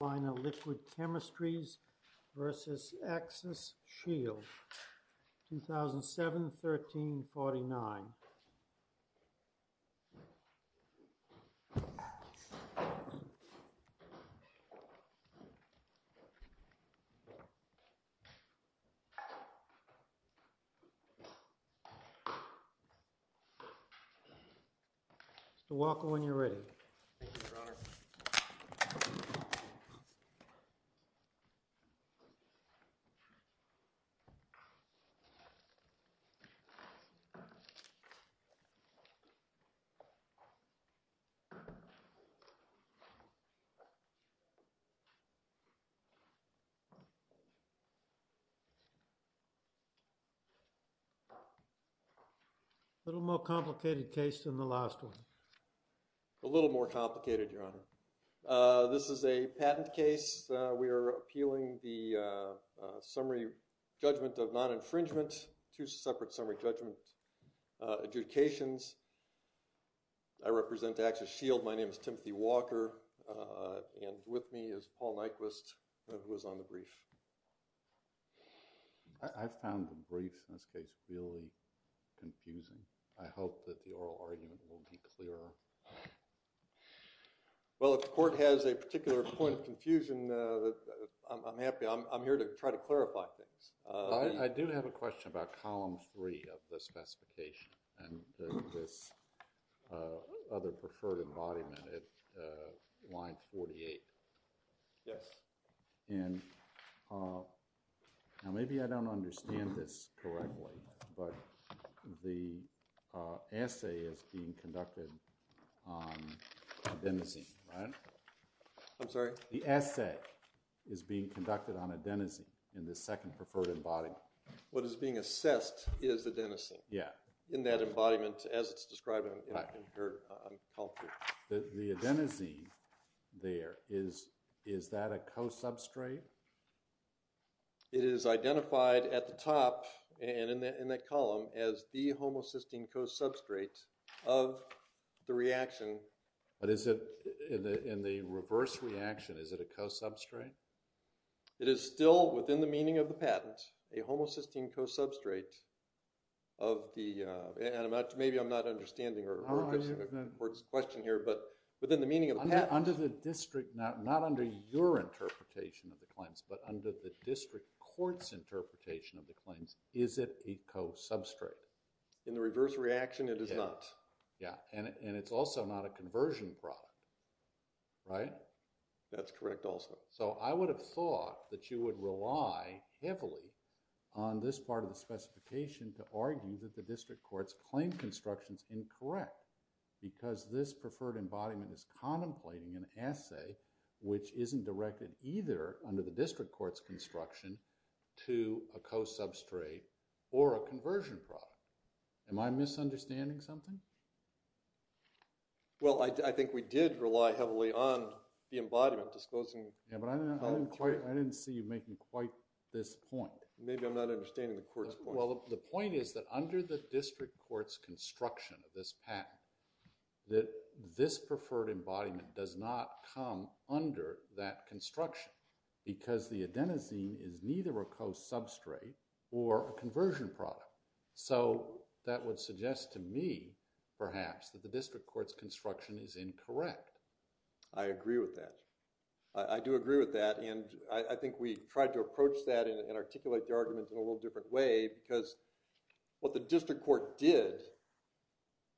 Liquid Chemistries v. Axis-Shield, 2007-13-49 Mr. Walker, when you're ready. Thank you, Robert. Thank you. A little more complicated case than the last one. A little more complicated, Your Honor. This is a patent case. We are appealing the summary judgment of non-infringement. Two separate summary judgment adjudications. I represent Axis-Shield. My name is Timothy Walker. And with me is Paul Nyquist, who is on the brief. I found the briefs in this case really confusing. I hope that the oral argument will be clearer. Well, if the court has a particular point of confusion, I'm happy. I'm here to try to clarify things. I do have a question about column 3 of the specification and this other preferred embodiment at line 48. Yes. And maybe I don't understand this correctly, but the assay is being conducted on adenosine, right? I'm sorry? The assay is being conducted on adenosine in the second preferred embodiment. What is being assessed is adenosine. Yeah. In that embodiment as it's described in your culture. The adenosine there, is that a co-substrate? It is identified at the top and in that column as the homocysteine co-substrate of the reaction. But is it in the reverse reaction, is it a co-substrate? It is still within the meaning of the patent, a homocysteine co-substrate of the, and maybe I'm not understanding the court's question here, but within the meaning of the patent. Under the district, not under your interpretation of the claims, but under the district court's interpretation of the claims, is it a co-substrate? In the reverse reaction, it is not. Yeah. And it's also not a conversion product, right? That's correct also. So I would have thought that you would rely heavily on this part of the specification to argue that the district court's claim construction is incorrect because this preferred embodiment is contemplating an assay which isn't directed either under the district court's construction to a co-substrate or a conversion product. Am I misunderstanding something? Well, I think we did rely heavily on the embodiment disclosing… Yeah, but I didn't see you making quite this point. Maybe I'm not understanding the court's point. Well, the point is that under the district court's construction of this patent, that this preferred embodiment does not come under that construction because the adenosine is neither a co-substrate or a conversion product. So that would suggest to me, perhaps, that the district court's construction is incorrect. I agree with that. I do agree with that, and I think we tried to approach that and articulate the argument in a little different way because what the district court did,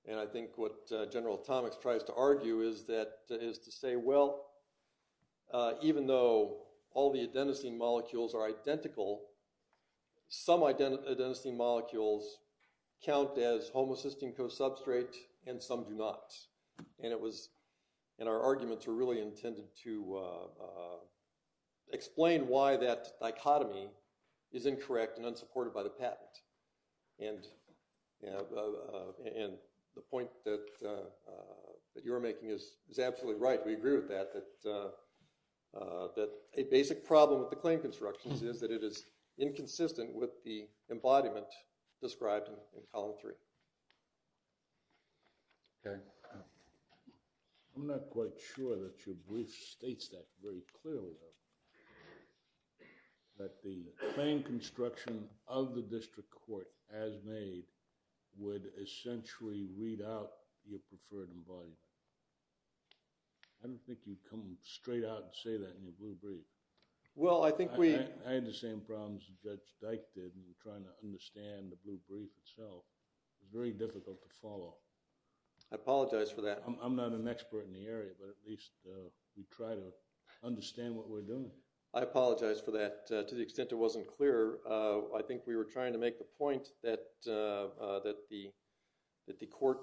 and I think what General Atomics tries to argue, is to say, well, even though all the adenosine molecules are identical, some adenosine molecules count as homocysteine co-substrate and some do not. And our arguments were really intended to explain why that dichotomy is incorrect and unsupported by the patent. And the point that you're making is absolutely right. We agree with that, that a basic problem with the claim constructions is that it is inconsistent with the embodiment described in Column 3. Okay. I'm not quite sure that your brief states that very clearly, that the claim construction of the district court as made would essentially read out your preferred embodiment. I don't think you'd come straight out and say that in your brief. Well, I think we... I had the same problems that Judge Dyke did when we were trying to understand the blue brief itself. It was very difficult to follow. I apologize for that. I'm not an expert in the area, but at least we try to understand what we're doing. I apologize for that. To the extent it wasn't clear, I think we were trying to make the point that the court...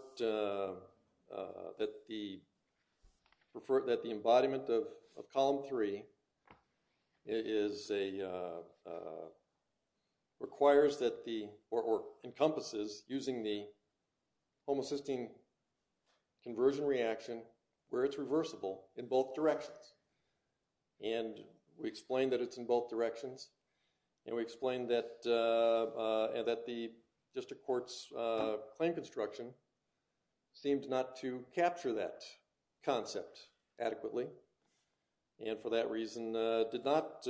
or encompasses using the homocysteine conversion reaction where it's reversible in both directions. And we explained that it's in both directions, and we explained that the district court's claim construction seemed not to capture that concept adequately, and for that reason did not...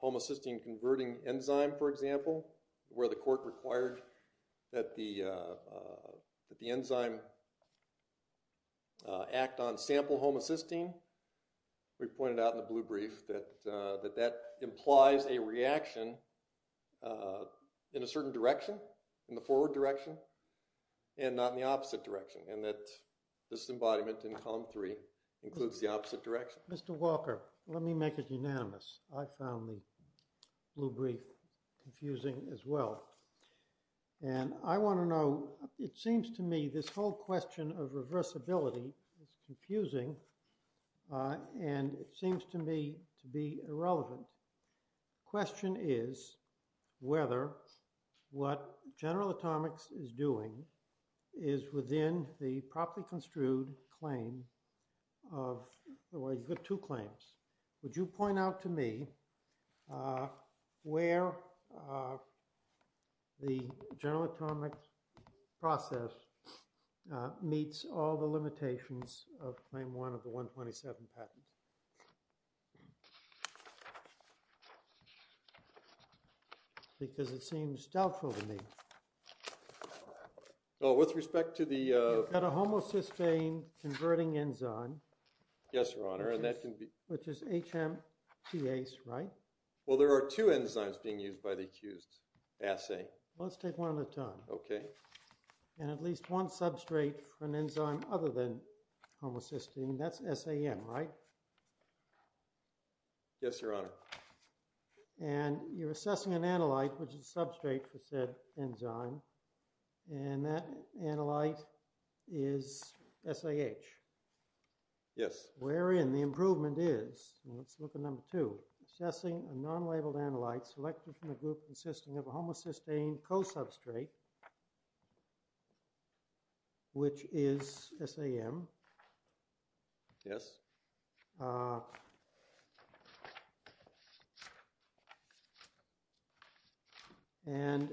homocysteine converting enzyme, for example, where the court required that the enzyme act on sample homocysteine. We pointed out in the blue brief that that implies a reaction in a certain direction, in the forward direction, and not in the opposite direction, and that this embodiment in Column 3 includes the opposite direction. Mr. Walker, let me make it unanimous. I found the blue brief confusing as well, and I want to know... It seems to me this whole question of reversibility is confusing, and it seems to me to be irrelevant. The question is whether what General Atomics is doing is within the properly construed claim of... You've got two claims. Would you point out to me where the General Atomics process meets all the limitations of Claim 1 of the 127 patents? Because it seems doubtful to me. With respect to the... You've got a homocysteine converting enzyme. Yes, Your Honor, and that can be... Which is HMTase, right? Well, there are two enzymes being used by the accused assay. Let's take one at a time. Okay. And at least one substrate for an enzyme other than homocysteine. That's SAM, right? Yes, Your Honor. And you're assessing an analyte, which is a substrate for said enzyme, and that analyte is SAH. Yes. Wherein the improvement is, let's look at number two, assessing a non-labeled analyte selected from a group consisting of a homocysteine co-substrate, which is SAM. Yes. And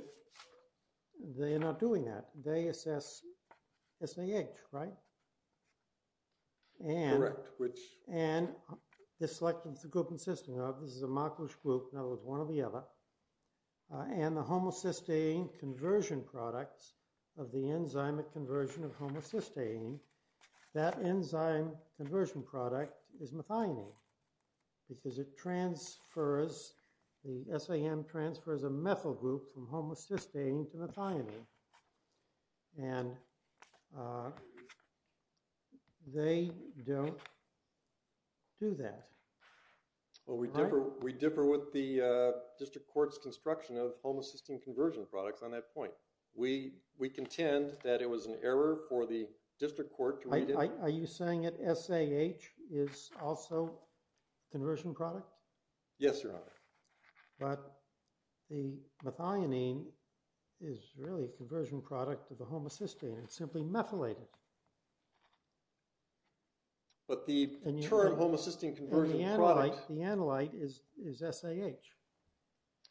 they are not doing that. They assess SAH, right? Correct, which... And they're selecting the group consisting of. This is a Markowitz group. In other words, one or the other. And the homocysteine conversion products of the enzyme at conversion of is methionine because it transfers, the SAM transfers a methyl group from homocysteine to methionine. And they don't do that. Well, we differ with the district court's construction of homocysteine conversion products on that point. We contend that it was an error for the district court to read it. Are you saying that SAH is also a conversion product? Yes, Your Honor. But the methionine is really a conversion product of the homocysteine. It's simply methylated. But the term homocysteine conversion product. And the analyte is SAH.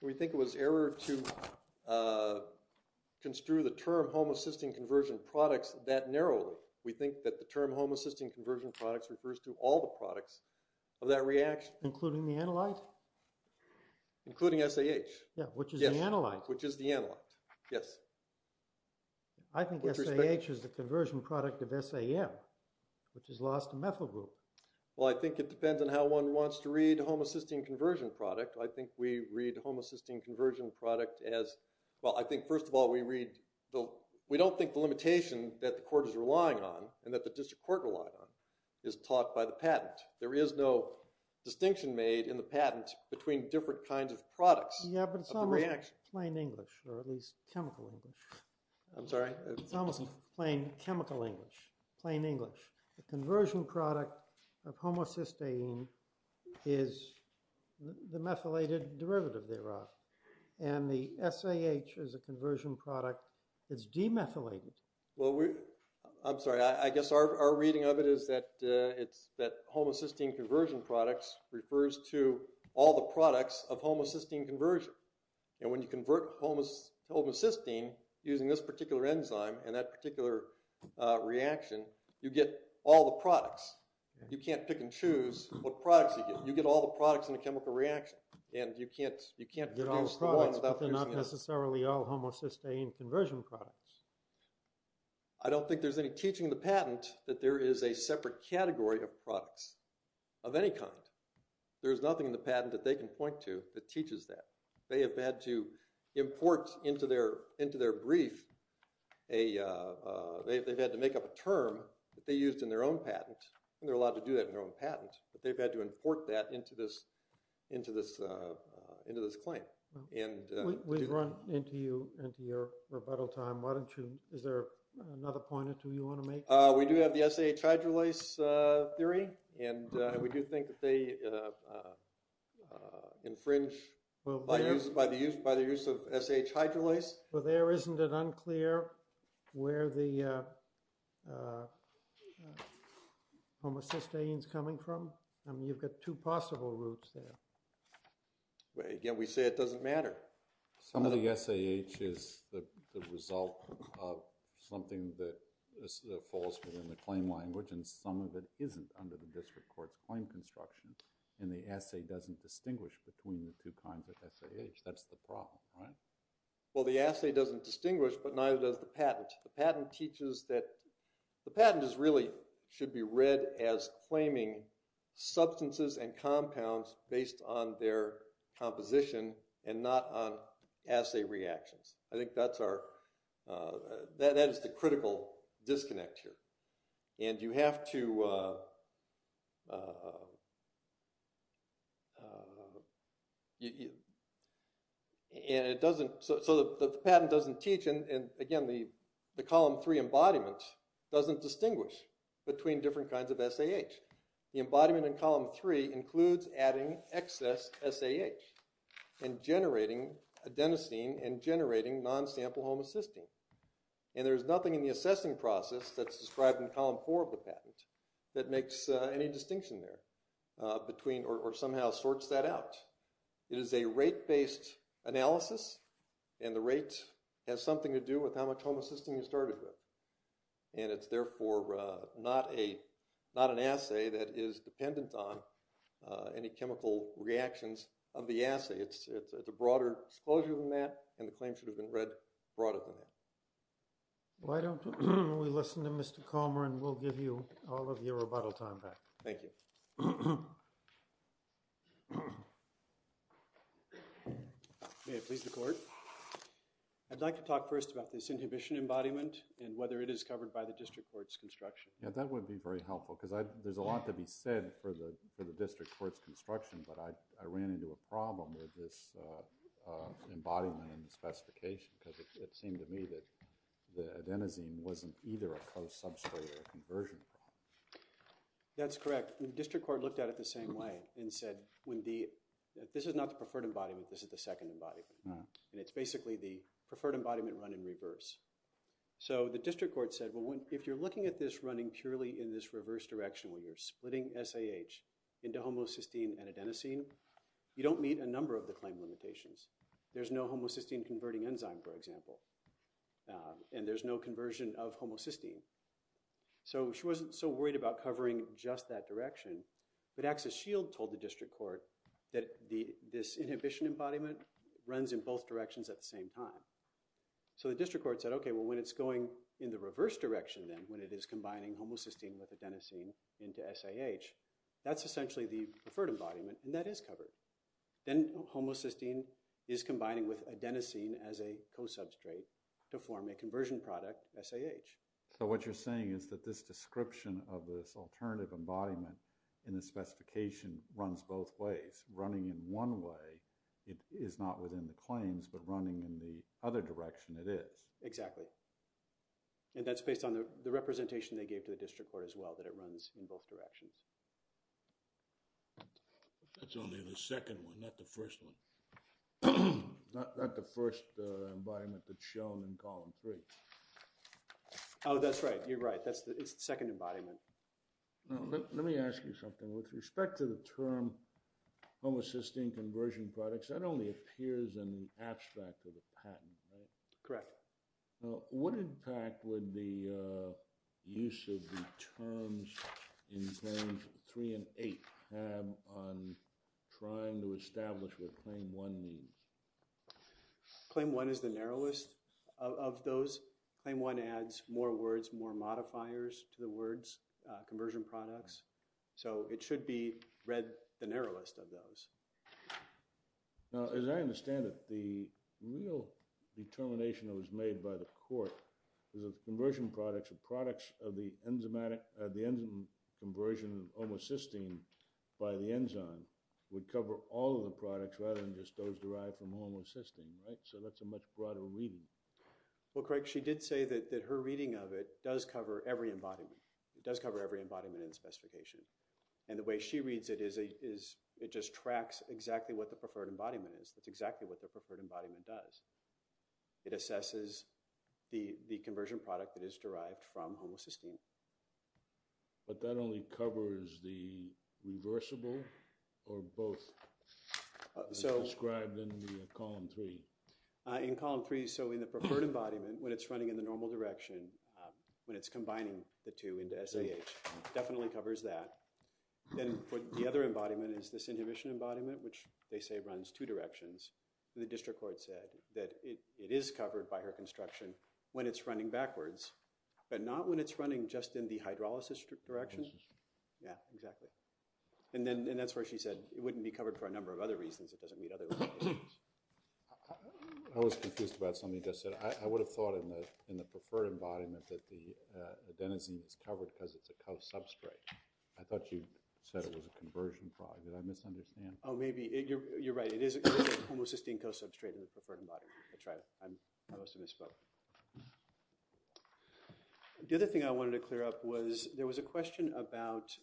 We think it was error to construe the term homocysteine conversion products that narrowly. We think that the term homocysteine conversion products refers to all the products of that reaction. Including the analyte? Including SAH. Yeah, which is the analyte. Which is the analyte, yes. I think SAH is the conversion product of SAM, which has lost a methyl group. Well, I think it depends on how one wants to read homocysteine conversion product. I think we read homocysteine conversion product as, well, I think first of all we read, we don't think the limitation that the court is relying on and that the district court relied on is taught by the patent. There is no distinction made in the patent between different kinds of products. Yeah, but it's almost plain English or at least chemical English. I'm sorry? It's almost plain chemical English, plain English. The conversion product of homocysteine is the methylated derivative thereof. And the SAH is a conversion product that's demethylated. Well, I'm sorry. I guess our reading of it is that it's, that homocysteine conversion products refers to all the products of homocysteine conversion. And when you convert homocysteine using this particular enzyme and that particular reaction, you get all the products. You can't pick and choose what products you get. You get all the products in a chemical reaction. You get all the products but they're not necessarily all homocysteine conversion products. I don't think there's any teaching in the patent that there is a separate category of products of any kind. There's nothing in the patent that they can point to that teaches that. They have had to import into their brief, they've had to make up a term that they used in their own patent, and they're allowed to do that in their own patent, but they've had to import that into this claim. We've run into you, into your rebuttal time. Why don't you, is there another point or two you want to make? We do have the SAH hydrolase theory, and we do think that they infringe by the use of SAH hydrolase. Well, there isn't it unclear where the homocysteine is coming from? I mean, you've got two possible routes there. Again, we say it doesn't matter. Some of the SAH is the result of something that falls within the claim language and some of it isn't under the district court's claim construction, and the assay doesn't distinguish between the two kinds of SAH. That's the problem, right? Well, the assay doesn't distinguish, but neither does the patent. The patent teaches that, the patent is really, should be read as claiming substances and compounds based on their composition and not on assay reactions. I think that's our, that is the critical disconnect here. And you have to, and it doesn't, so the patent doesn't teach, and again the column three embodiment doesn't distinguish between different kinds of SAH. The embodiment in column three includes adding excess SAH and generating adenosine and generating non-sample homocysteine. And there's nothing in the assessing process that's described in column four of the patent that makes any distinction there between, or somehow sorts that out. It is a rate-based analysis, and the rate has something to do with how much homocysteine you started with. And it's therefore not an assay that is dependent on any chemical reactions of the assay. It's a broader disclosure than that, and the claim should have been read broader than that. Why don't we listen to Mr. Calmer and we'll give you all of your rebuttal time back. Thank you. May it please the court. I'd like to talk first about this inhibition embodiment and whether it is covered by the district court's construction. Yeah, that would be very helpful, because there's a lot to be said for the district court's construction, but I ran into a problem with this embodiment in the specification, because it seemed to me that the adenosine wasn't either a close substrate or a conversion problem. That's correct. The district court looked at it the same way and said, this is not the preferred embodiment, this is the second embodiment. And it's basically the preferred embodiment run in reverse. So the district court said, if you're looking at this running purely in this reverse direction, where you're splitting SAH into homocysteine and adenosine, you don't meet a number of the claim limitations. There's no homocysteine converting enzyme, for example, and there's no conversion of homocysteine. So she wasn't so worried about covering just that direction, but Axis Shield told the district court that this inhibition embodiment runs in both directions at the same time. So the district court said, okay, well, when it's going in the reverse direction then, when it is combining homocysteine with adenosine into SAH, that's essentially the preferred embodiment, and that is covered. Then homocysteine is combining with adenosine as a co-substrate to form a conversion product, SAH. So what you're saying is that this description of this alternative embodiment in the specification runs both ways. Running in one way is not within the claims, but running in the other direction it is. Exactly. And that's based on the representation they gave to the district court as well, that it runs in both directions. That's only the second one, not the first one. Not the first embodiment that's shown in column three. Oh, that's right. You're right. It's the second embodiment. Let me ask you something. With respect to the term homocysteine conversion products, that only appears in the abstract of the patent, right? Correct. What impact would the use of the terms in Claims 3 and 8 have on trying to establish what Claim 1 means? Claim 1 is the narrowest of those. Claim 1 adds more words, more modifiers to the words, conversion products. So it should be read the narrowest of those. Now, as I understand it, the real determination that was made by the court was that the conversion products, the products of the enzyme conversion of homocysteine by the enzyme would cover all of the products rather than just those derived from homocysteine, right? So that's a much broader reading. Well, Craig, she did say that her reading of it does cover every embodiment. It does cover every embodiment in the specification. And the way she reads it is it just tracks exactly what the preferred embodiment is. That's exactly what the preferred embodiment does. It assesses the conversion product that is derived from homocysteine. But that only covers the reversible or both as described in Column 3? In Column 3, so in the preferred embodiment, when it's running in the normal direction, when it's combining the two into SAH, definitely covers that. Then the other embodiment is this inhibition embodiment, which they say runs two directions. The district court said that it is covered by her construction when it's running backwards, but not when it's running just in the hydrolysis direction. Yeah, exactly. And that's where she said it wouldn't be covered for a number of other reasons. It doesn't meet other requirements. I was confused about something you just said. I would have thought in the preferred embodiment that the adenosine is covered because it's a co-substrate. I thought you said it was a conversion product. Did I misunderstand? Oh, maybe. You're right. It is a homocysteine co-substrate in the preferred embodiment. That's right. I must have misspoke. The other thing I wanted to clear up was there was a question about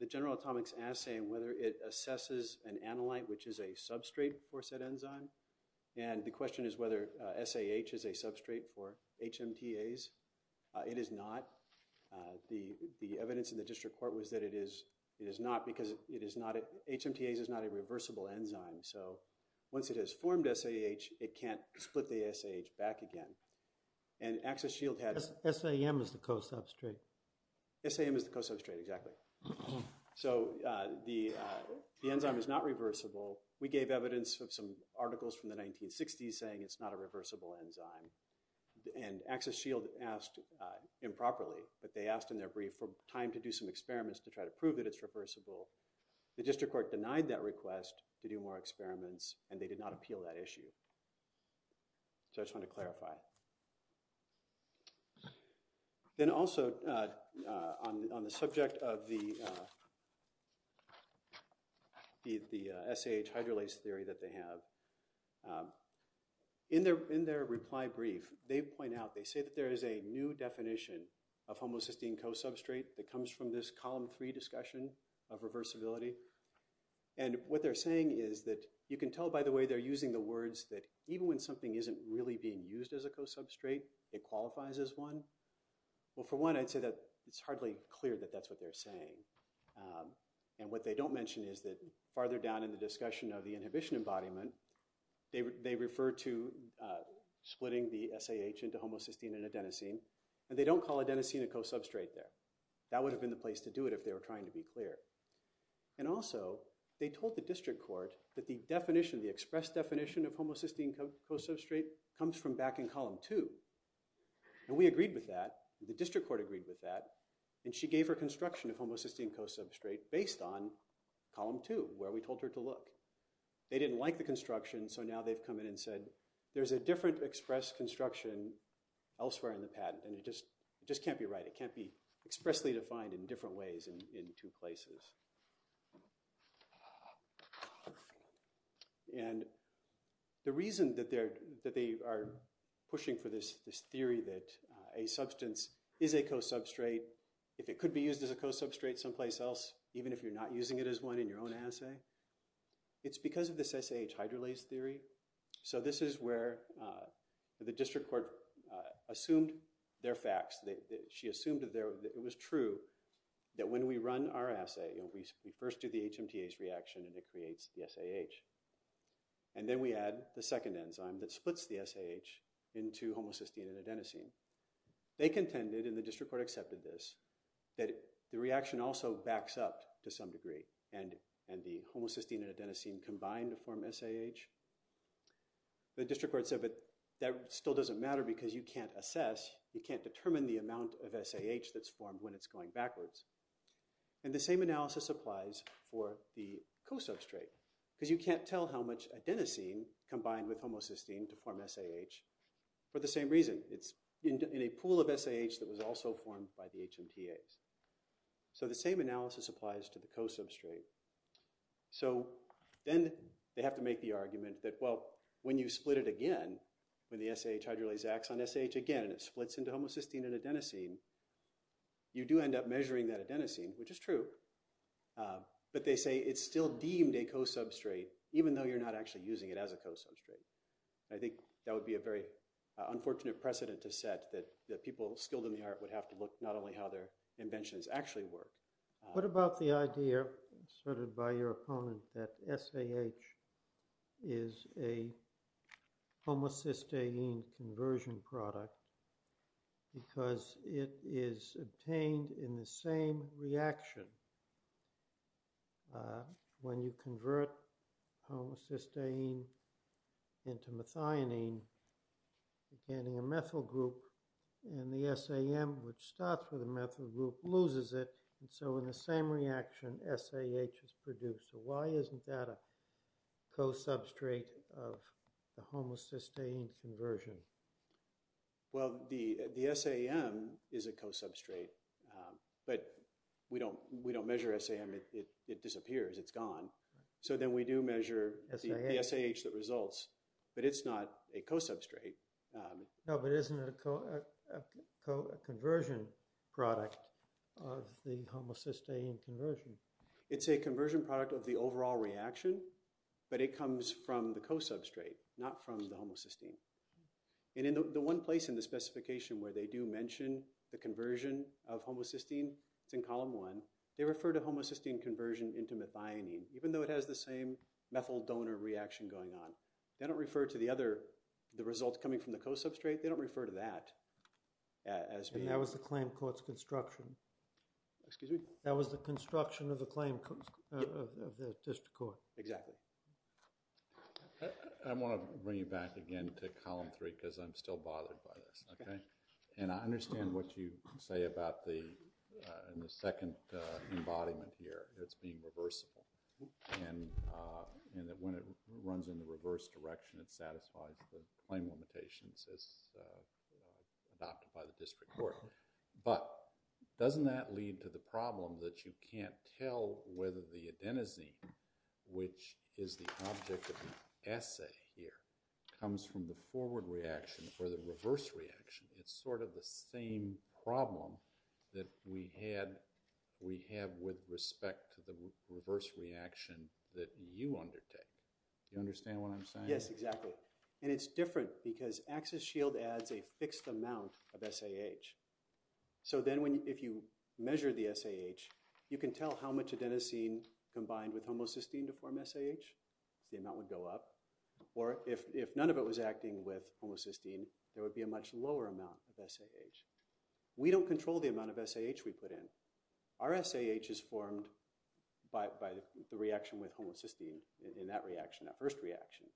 the general atomics assay and whether it assesses an analyte, which is a substrate for said enzyme. And the question is whether SAH is a substrate for HMTAs. It is not. The evidence in the district court was that it is not because HMTAs is not a reversible enzyme. So once it has formed SAH, it can't split the SAH back again. And Axis Shield had— SAM is the co-substrate. SAM is the co-substrate, exactly. So the enzyme is not reversible. We gave evidence of some articles from the 1960s saying it's not a reversible enzyme. And Axis Shield asked improperly, but they asked in their brief for time to do some experiments to try to prove that it's reversible. The district court denied that request to do more experiments, and they did not appeal that issue. So I just wanted to clarify. Then also, on the subject of the SAH hydrolase theory that they have, in their reply brief, they point out— they say that there is a new definition of homocysteine co-substrate that comes from this column three discussion of reversibility. And what they're saying is that— you can tell, by the way, they're using the words that even when something isn't really being used as a co-substrate, it qualifies as one. Well, for one, I'd say that it's hardly clear that that's what they're saying. And what they don't mention is that farther down in the discussion of the inhibition embodiment, they refer to splitting the SAH into homocysteine and adenosine, and they don't call adenosine a co-substrate there. That would have been the place to do it if they were trying to be clear. And also, they told the district court that the definition, the express definition of homocysteine co-substrate comes from back in column two. And we agreed with that, the district court agreed with that, and she gave her construction of homocysteine co-substrate based on column two, where we told her to look. They didn't like the construction, so now they've come in and said, there's a different express construction elsewhere in the patent, and it just can't be right. And the reason that they are pushing for this theory that a substance is a co-substrate, if it could be used as a co-substrate someplace else, even if you're not using it as one in your own assay, it's because of this SAH hydrolase theory. So this is where the district court assumed their facts. She assumed that it was true that when we run our assay, we first do the HMTA's reaction and it creates the SAH. And then we add the second enzyme that splits the SAH into homocysteine and adenosine. They contended, and the district court accepted this, that the reaction also backs up to some degree, and the homocysteine and adenosine combine to form SAH. The district court said, but that still doesn't matter because you can't assess, you can't determine the amount of SAH that's formed when it's going backwards. And the same analysis applies for the co-substrate, because you can't tell how much adenosine combined with homocysteine to form SAH for the same reason. It's in a pool of SAH that was also formed by the HMTA's. So the same analysis applies to the co-substrate. So then they have to make the argument that, well, when you split it again, when the SAH hydrolase acts on SAH again and it splits into homocysteine and adenosine, you do end up measuring that adenosine, which is true. But they say it's still deemed a co-substrate, even though you're not actually using it as a co-substrate. I think that would be a very unfortunate precedent to set, that people skilled in the art would have to look not only how their inventions actually work. What about the idea asserted by your opponent that SAH is a homocysteine conversion product, because it is obtained in the same reaction when you convert homocysteine into methionine, containing a methyl group, and the SAM, which starts with a methyl group, loses it. And so in the same reaction, SAH is produced. So why isn't that a co-substrate of the homocysteine conversion? Well, the SAM is a co-substrate, but we don't measure SAM. It disappears. It's gone. So then we do measure the SAH that results. But it's not a co-substrate. No, but isn't it a conversion product of the homocysteine conversion? It's a conversion product of the overall reaction, but it comes from the co-substrate, not from the homocysteine. And in the one place in the specification where they do mention the conversion of homocysteine, it's in column one, they refer to homocysteine conversion into methionine, even though it has the same methyl donor reaction going on. They don't refer to the results coming from the co-substrate. They don't refer to that as being— And that was the claim court's construction. Excuse me? That was the construction of the district court. Exactly. I want to bring you back again to column three because I'm still bothered by this, okay? And I understand what you say about the second embodiment here, it's being reversible. And that when it runs in the reverse direction, it satisfies the claim limitations as adopted by the district court. But doesn't that lead to the problem that you can't tell whether the adenosine, which is the object of the essay here, comes from the forward reaction or the reverse reaction? It's sort of the same problem that we have with respect to the reverse reaction that you undertake. Do you understand what I'm saying? Yes, exactly. And it's different because axis shield adds a fixed amount of SAH. So then if you measure the SAH, you can tell how much adenosine combined with homocysteine to form SAH. The amount would go up. Or if none of it was acting with homocysteine, there would be a much lower amount of SAH. We don't control the amount of SAH we put in. Our SAH is formed by the reaction with homocysteine in that reaction, that first reaction.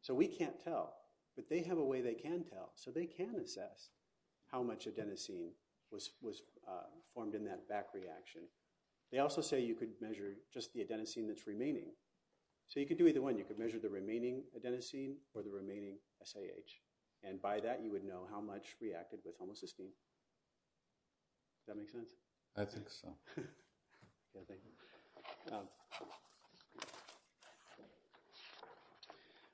So we can't tell, but they have a way they can tell. So they can assess how much adenosine was formed in that back reaction. They also say you could measure just the adenosine that's remaining. So you could do either one. You could measure the remaining adenosine or the remaining SAH. And by that, you would know how much reacted with homocysteine. Does that make sense? I think so. Yeah, thank you.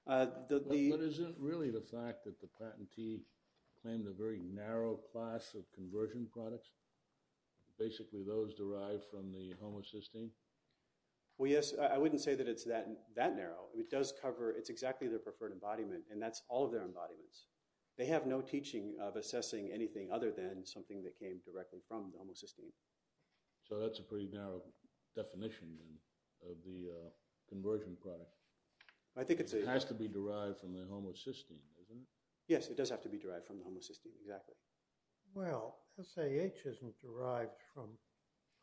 But isn't really the fact that the patentee claimed a very narrow class of conversion products, basically those derived from the homocysteine? Well, yes. I wouldn't say that it's that narrow. It does cover—it's exactly their preferred embodiment, and that's all of their embodiments. They have no teaching of assessing anything other than something that came directly from the homocysteine. So that's a pretty narrow definition of the conversion product. It has to be derived from the homocysteine, isn't it? Yes, it does have to be derived from the homocysteine, exactly. Well, SAH isn't derived from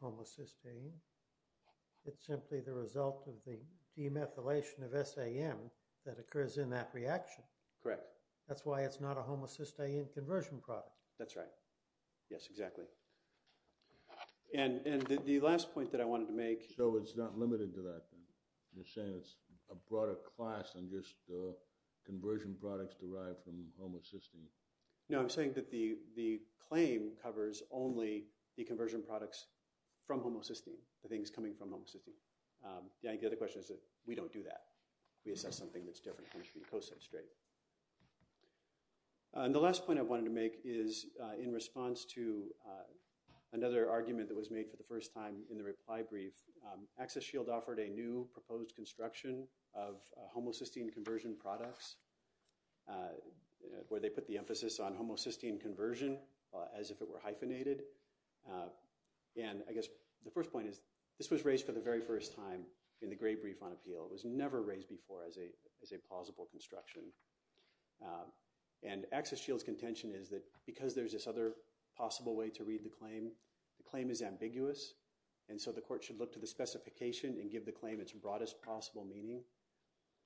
homocysteine. It's simply the result of the demethylation of SAM that occurs in that reaction. Correct. That's why it's not a homocysteine conversion product. That's right. Yes, exactly. And the last point that I wanted to make— So it's not limited to that, then? You're saying it's a broader class than just conversion products derived from homocysteine? No, I'm saying that the claim covers only the conversion products from homocysteine, the things coming from homocysteine. The other question is that we don't do that. We assess something that's different. We co-substrate. And the last point I wanted to make is in response to another argument that was made for the first time in the reply brief. Access Shield offered a new proposed construction of homocysteine conversion products where they put the emphasis on homocysteine conversion as if it were hyphenated. And I guess the first point is this was raised for the very first time in the Gray brief on appeal. It was never raised before as a plausible construction. And Access Shield's contention is that because there's this other possible way to read the claim, the claim is ambiguous. And so the court should look to the specification and give the claim its broadest possible meaning.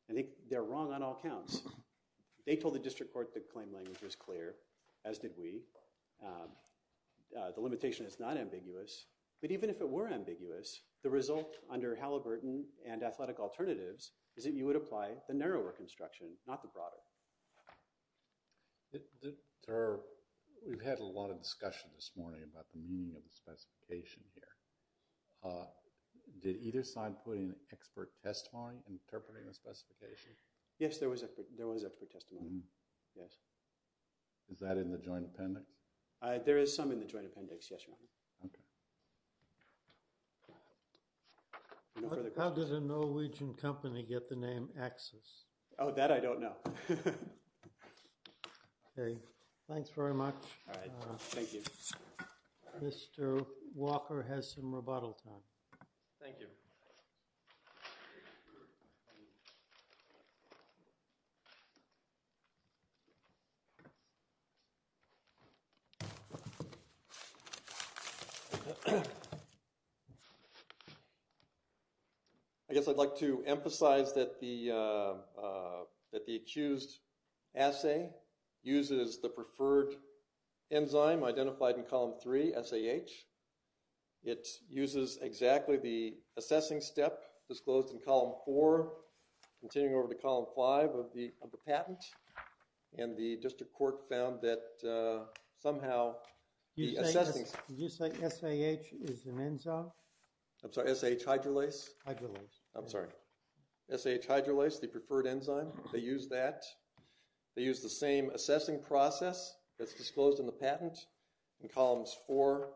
And they're wrong on all counts. They told the district court the claim language was clear, as did we. The limitation is not ambiguous. But even if it were ambiguous, the result under Halliburton and athletic alternatives is that you would apply the narrower construction, not the broader. We've had a lot of discussion this morning about the meaning of the specification here. Did either side put in an expert testimony interpreting the specification? Yes, there was an expert testimony. Yes. Is that in the joint appendix? There is some in the joint appendix, yes, Your Honor. Okay. How did a Norwegian company get the name Access? Oh, that I don't know. Okay. Thanks very much. All right. Thank you. Mr. Walker has some rebuttal time. Thank you. Thank you. I guess I'd like to emphasize that the accused assay uses the preferred enzyme identified in column three, SAH. It uses exactly the assessing step disclosed in column four, continuing over to column five of the patent. And the district court found that somehow the assessing... Did you say SAH is an enzyme? I'm sorry, SAH hydrolase? Hydrolase. I'm sorry. SAH hydrolase, the preferred enzyme, they use that. They use the same assessing process that's disclosed in the patent in columns four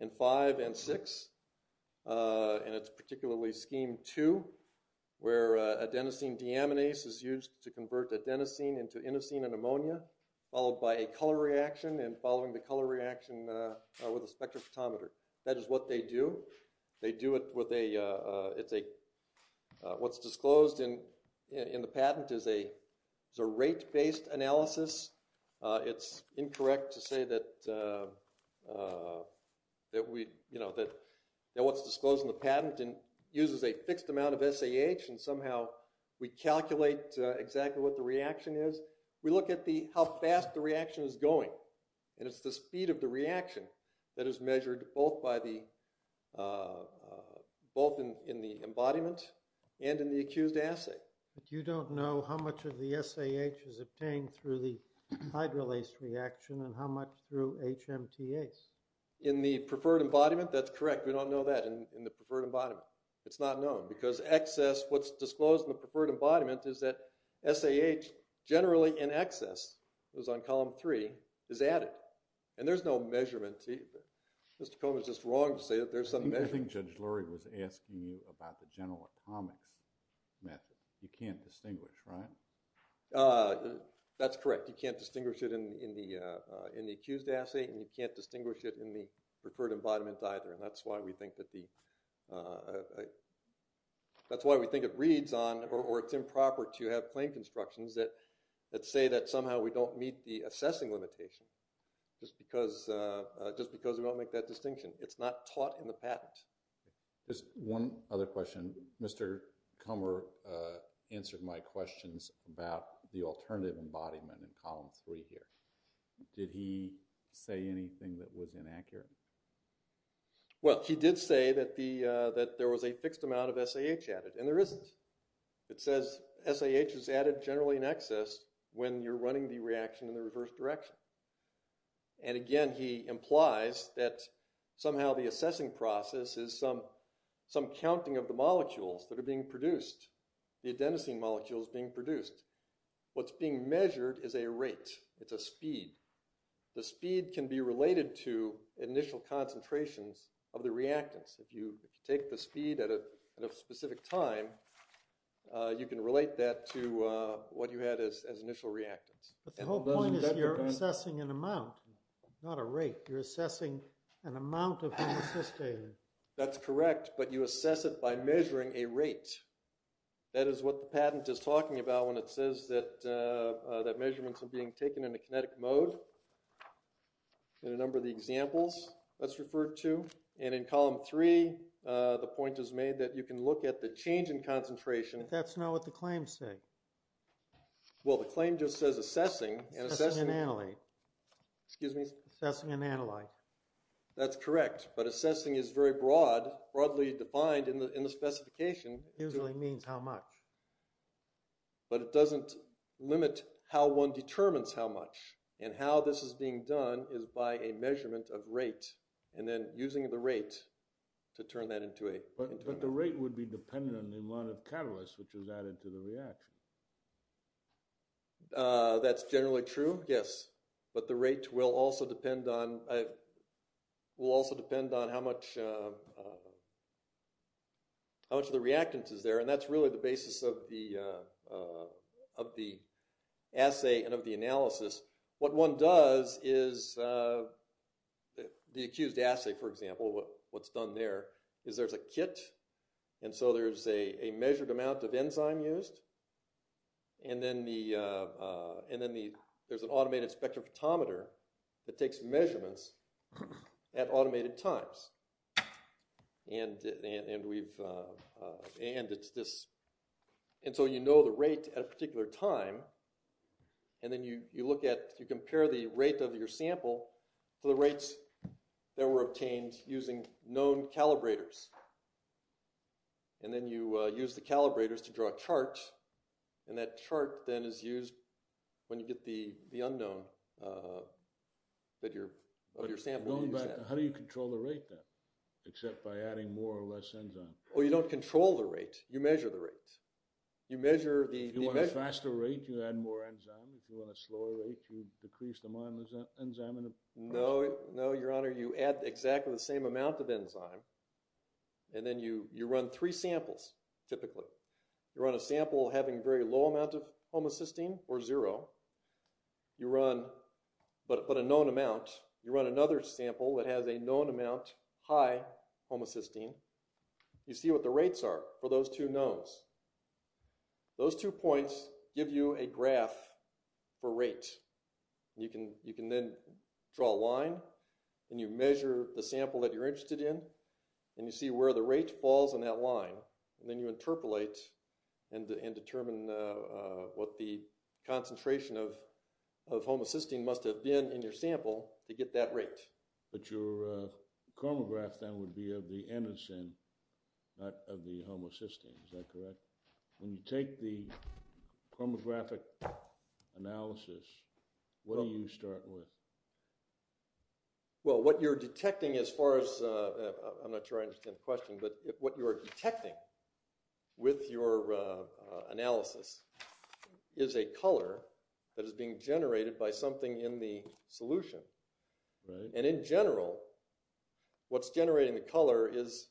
and five and six. And it's particularly scheme two where adenosine deaminase is used to convert adenosine into inosine and ammonia, followed by a color reaction and following the color reaction with a spectrophotometer. That is what they do. They do it with a... What's disclosed in the patent is a rate-based analysis. It's incorrect to say that what's disclosed in the patent uses a fixed amount of SAH and somehow we calculate exactly what the reaction is. We look at how fast the reaction is going, and it's the speed of the reaction that is measured both in the embodiment and in the accused assay. But you don't know how much of the SAH is obtained through the hydrolase reaction and how much through HMTase. In the preferred embodiment, that's correct. We don't know that in the preferred embodiment. It's not known because excess... What's disclosed in the preferred embodiment is that SAH generally in excess, it was on column three, is added. And there's no measurement. Mr. Cohn was just wrong to say that there's some measurement. I think Judge Lurie was asking you about the general atomics method. You can't distinguish, right? That's correct. You can't distinguish it in the accused assay, and you can't distinguish it in the preferred embodiment either. And that's why we think that the... That's why we think it reads on or it's improper to have plain constructions that say that somehow we don't meet the assessing limitation just because we don't make that distinction. It's not taught in the patent. Just one other question. Mr. Kummer answered my questions about the alternative embodiment in column three here. Did he say anything that was inaccurate? Well, he did say that there was a fixed amount of SAH added, and there isn't. It says SAH is added generally in excess when you're running the reaction in the reverse direction. And again, he implies that somehow the assessing process is some counting of the molecules that are being produced, the adenosine molecules being produced. What's being measured is a rate. It's a speed. The speed can be related to initial concentrations of the reactants. If you take the speed at a specific time, you can relate that to what you had as initial reactants. But the whole point is you're assessing an amount, not a rate. You're assessing an amount of an assistator. That's correct, but you assess it by measuring a rate. That is what the patent is talking about when it says that measurements are being taken in a kinetic mode in a number of the examples that's referred to. And in column three, the point is made that you can look at the change in concentration. But that's not what the claims say. Well, the claim just says assessing and assessing. Assessing and analyte. Excuse me? Assessing and analyte. That's correct, but assessing is very broadly defined in the specification. It usually means how much. But it doesn't limit how one determines how much. And how this is being done is by a measurement of rate and then using the rate to turn that into a measurement. But the rate would be dependent on the amount of catalyst which is added to the reaction. That's generally true, yes. But the rate will also depend on how much of the reactant is there. And that's really the basis of the assay and of the analysis. What one does is the accused assay, for example, what's done there is there's a kit. And so there's a measured amount of enzyme used. And then there's an automated spectrophotometer that takes measurements at automated times. And so you know the rate at a particular time. And then you compare the rate of your sample to the rates that were obtained using known calibrators. And then you use the calibrators to draw a chart. And that chart then is used when you get the unknown of your sample. How do you control the rate then, except by adding more or less enzyme? Well, you don't control the rate. You measure the rate. If you want a faster rate, you add more enzyme. If you want a slower rate, you decrease the amount of enzyme. No, your honor, you add exactly the same amount of enzyme. And then you run three samples, typically. You run a sample having a very low amount of homocysteine, or zero. But a known amount. You run another sample that has a known amount, high homocysteine. You see what the rates are for those two knowns. Those two points give you a graph for rate. You can then draw a line. And you measure the sample that you're interested in. And you see where the rate falls on that line. And then you interpolate and determine what the concentration of homocysteine must have been in your sample to get that rate. But your chromograph then would be of the anacin, not of the homocysteine. Is that correct? When you take the chromographic analysis, what do you start with? Well, what you're detecting as far as – I'm not sure I understand the question. But what you're detecting with your analysis is a color that is being generated by something in the solution. And in general, what's generating the color is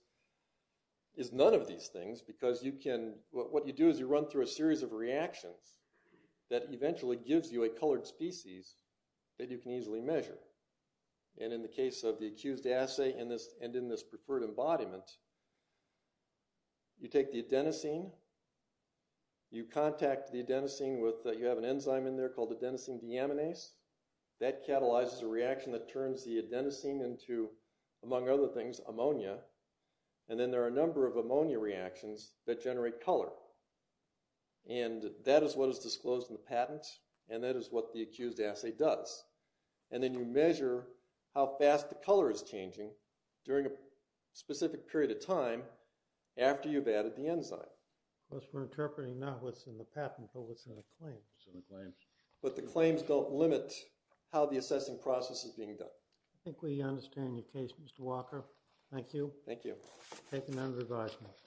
none of these things. Because you can – what you do is you run through a series of reactions that eventually gives you a colored species that you can easily measure. And in the case of the accused assay and in this preferred embodiment, you take the adenosine. You contact the adenosine with – you have an enzyme in there called adenosine deaminase. That catalyzes a reaction that turns the adenosine into, among other things, ammonia. And then there are a number of ammonia reactions that generate color. And that is what is disclosed in the patent and that is what the accused assay does. And then you measure how fast the color is changing during a specific period of time after you've added the enzyme. Of course, we're interpreting not what's in the patent but what's in the claims. But the claims don't limit how the assessing process is being done. I think we understand your case, Mr. Walker. Thank you. Thank you. Thank you, members of the audience.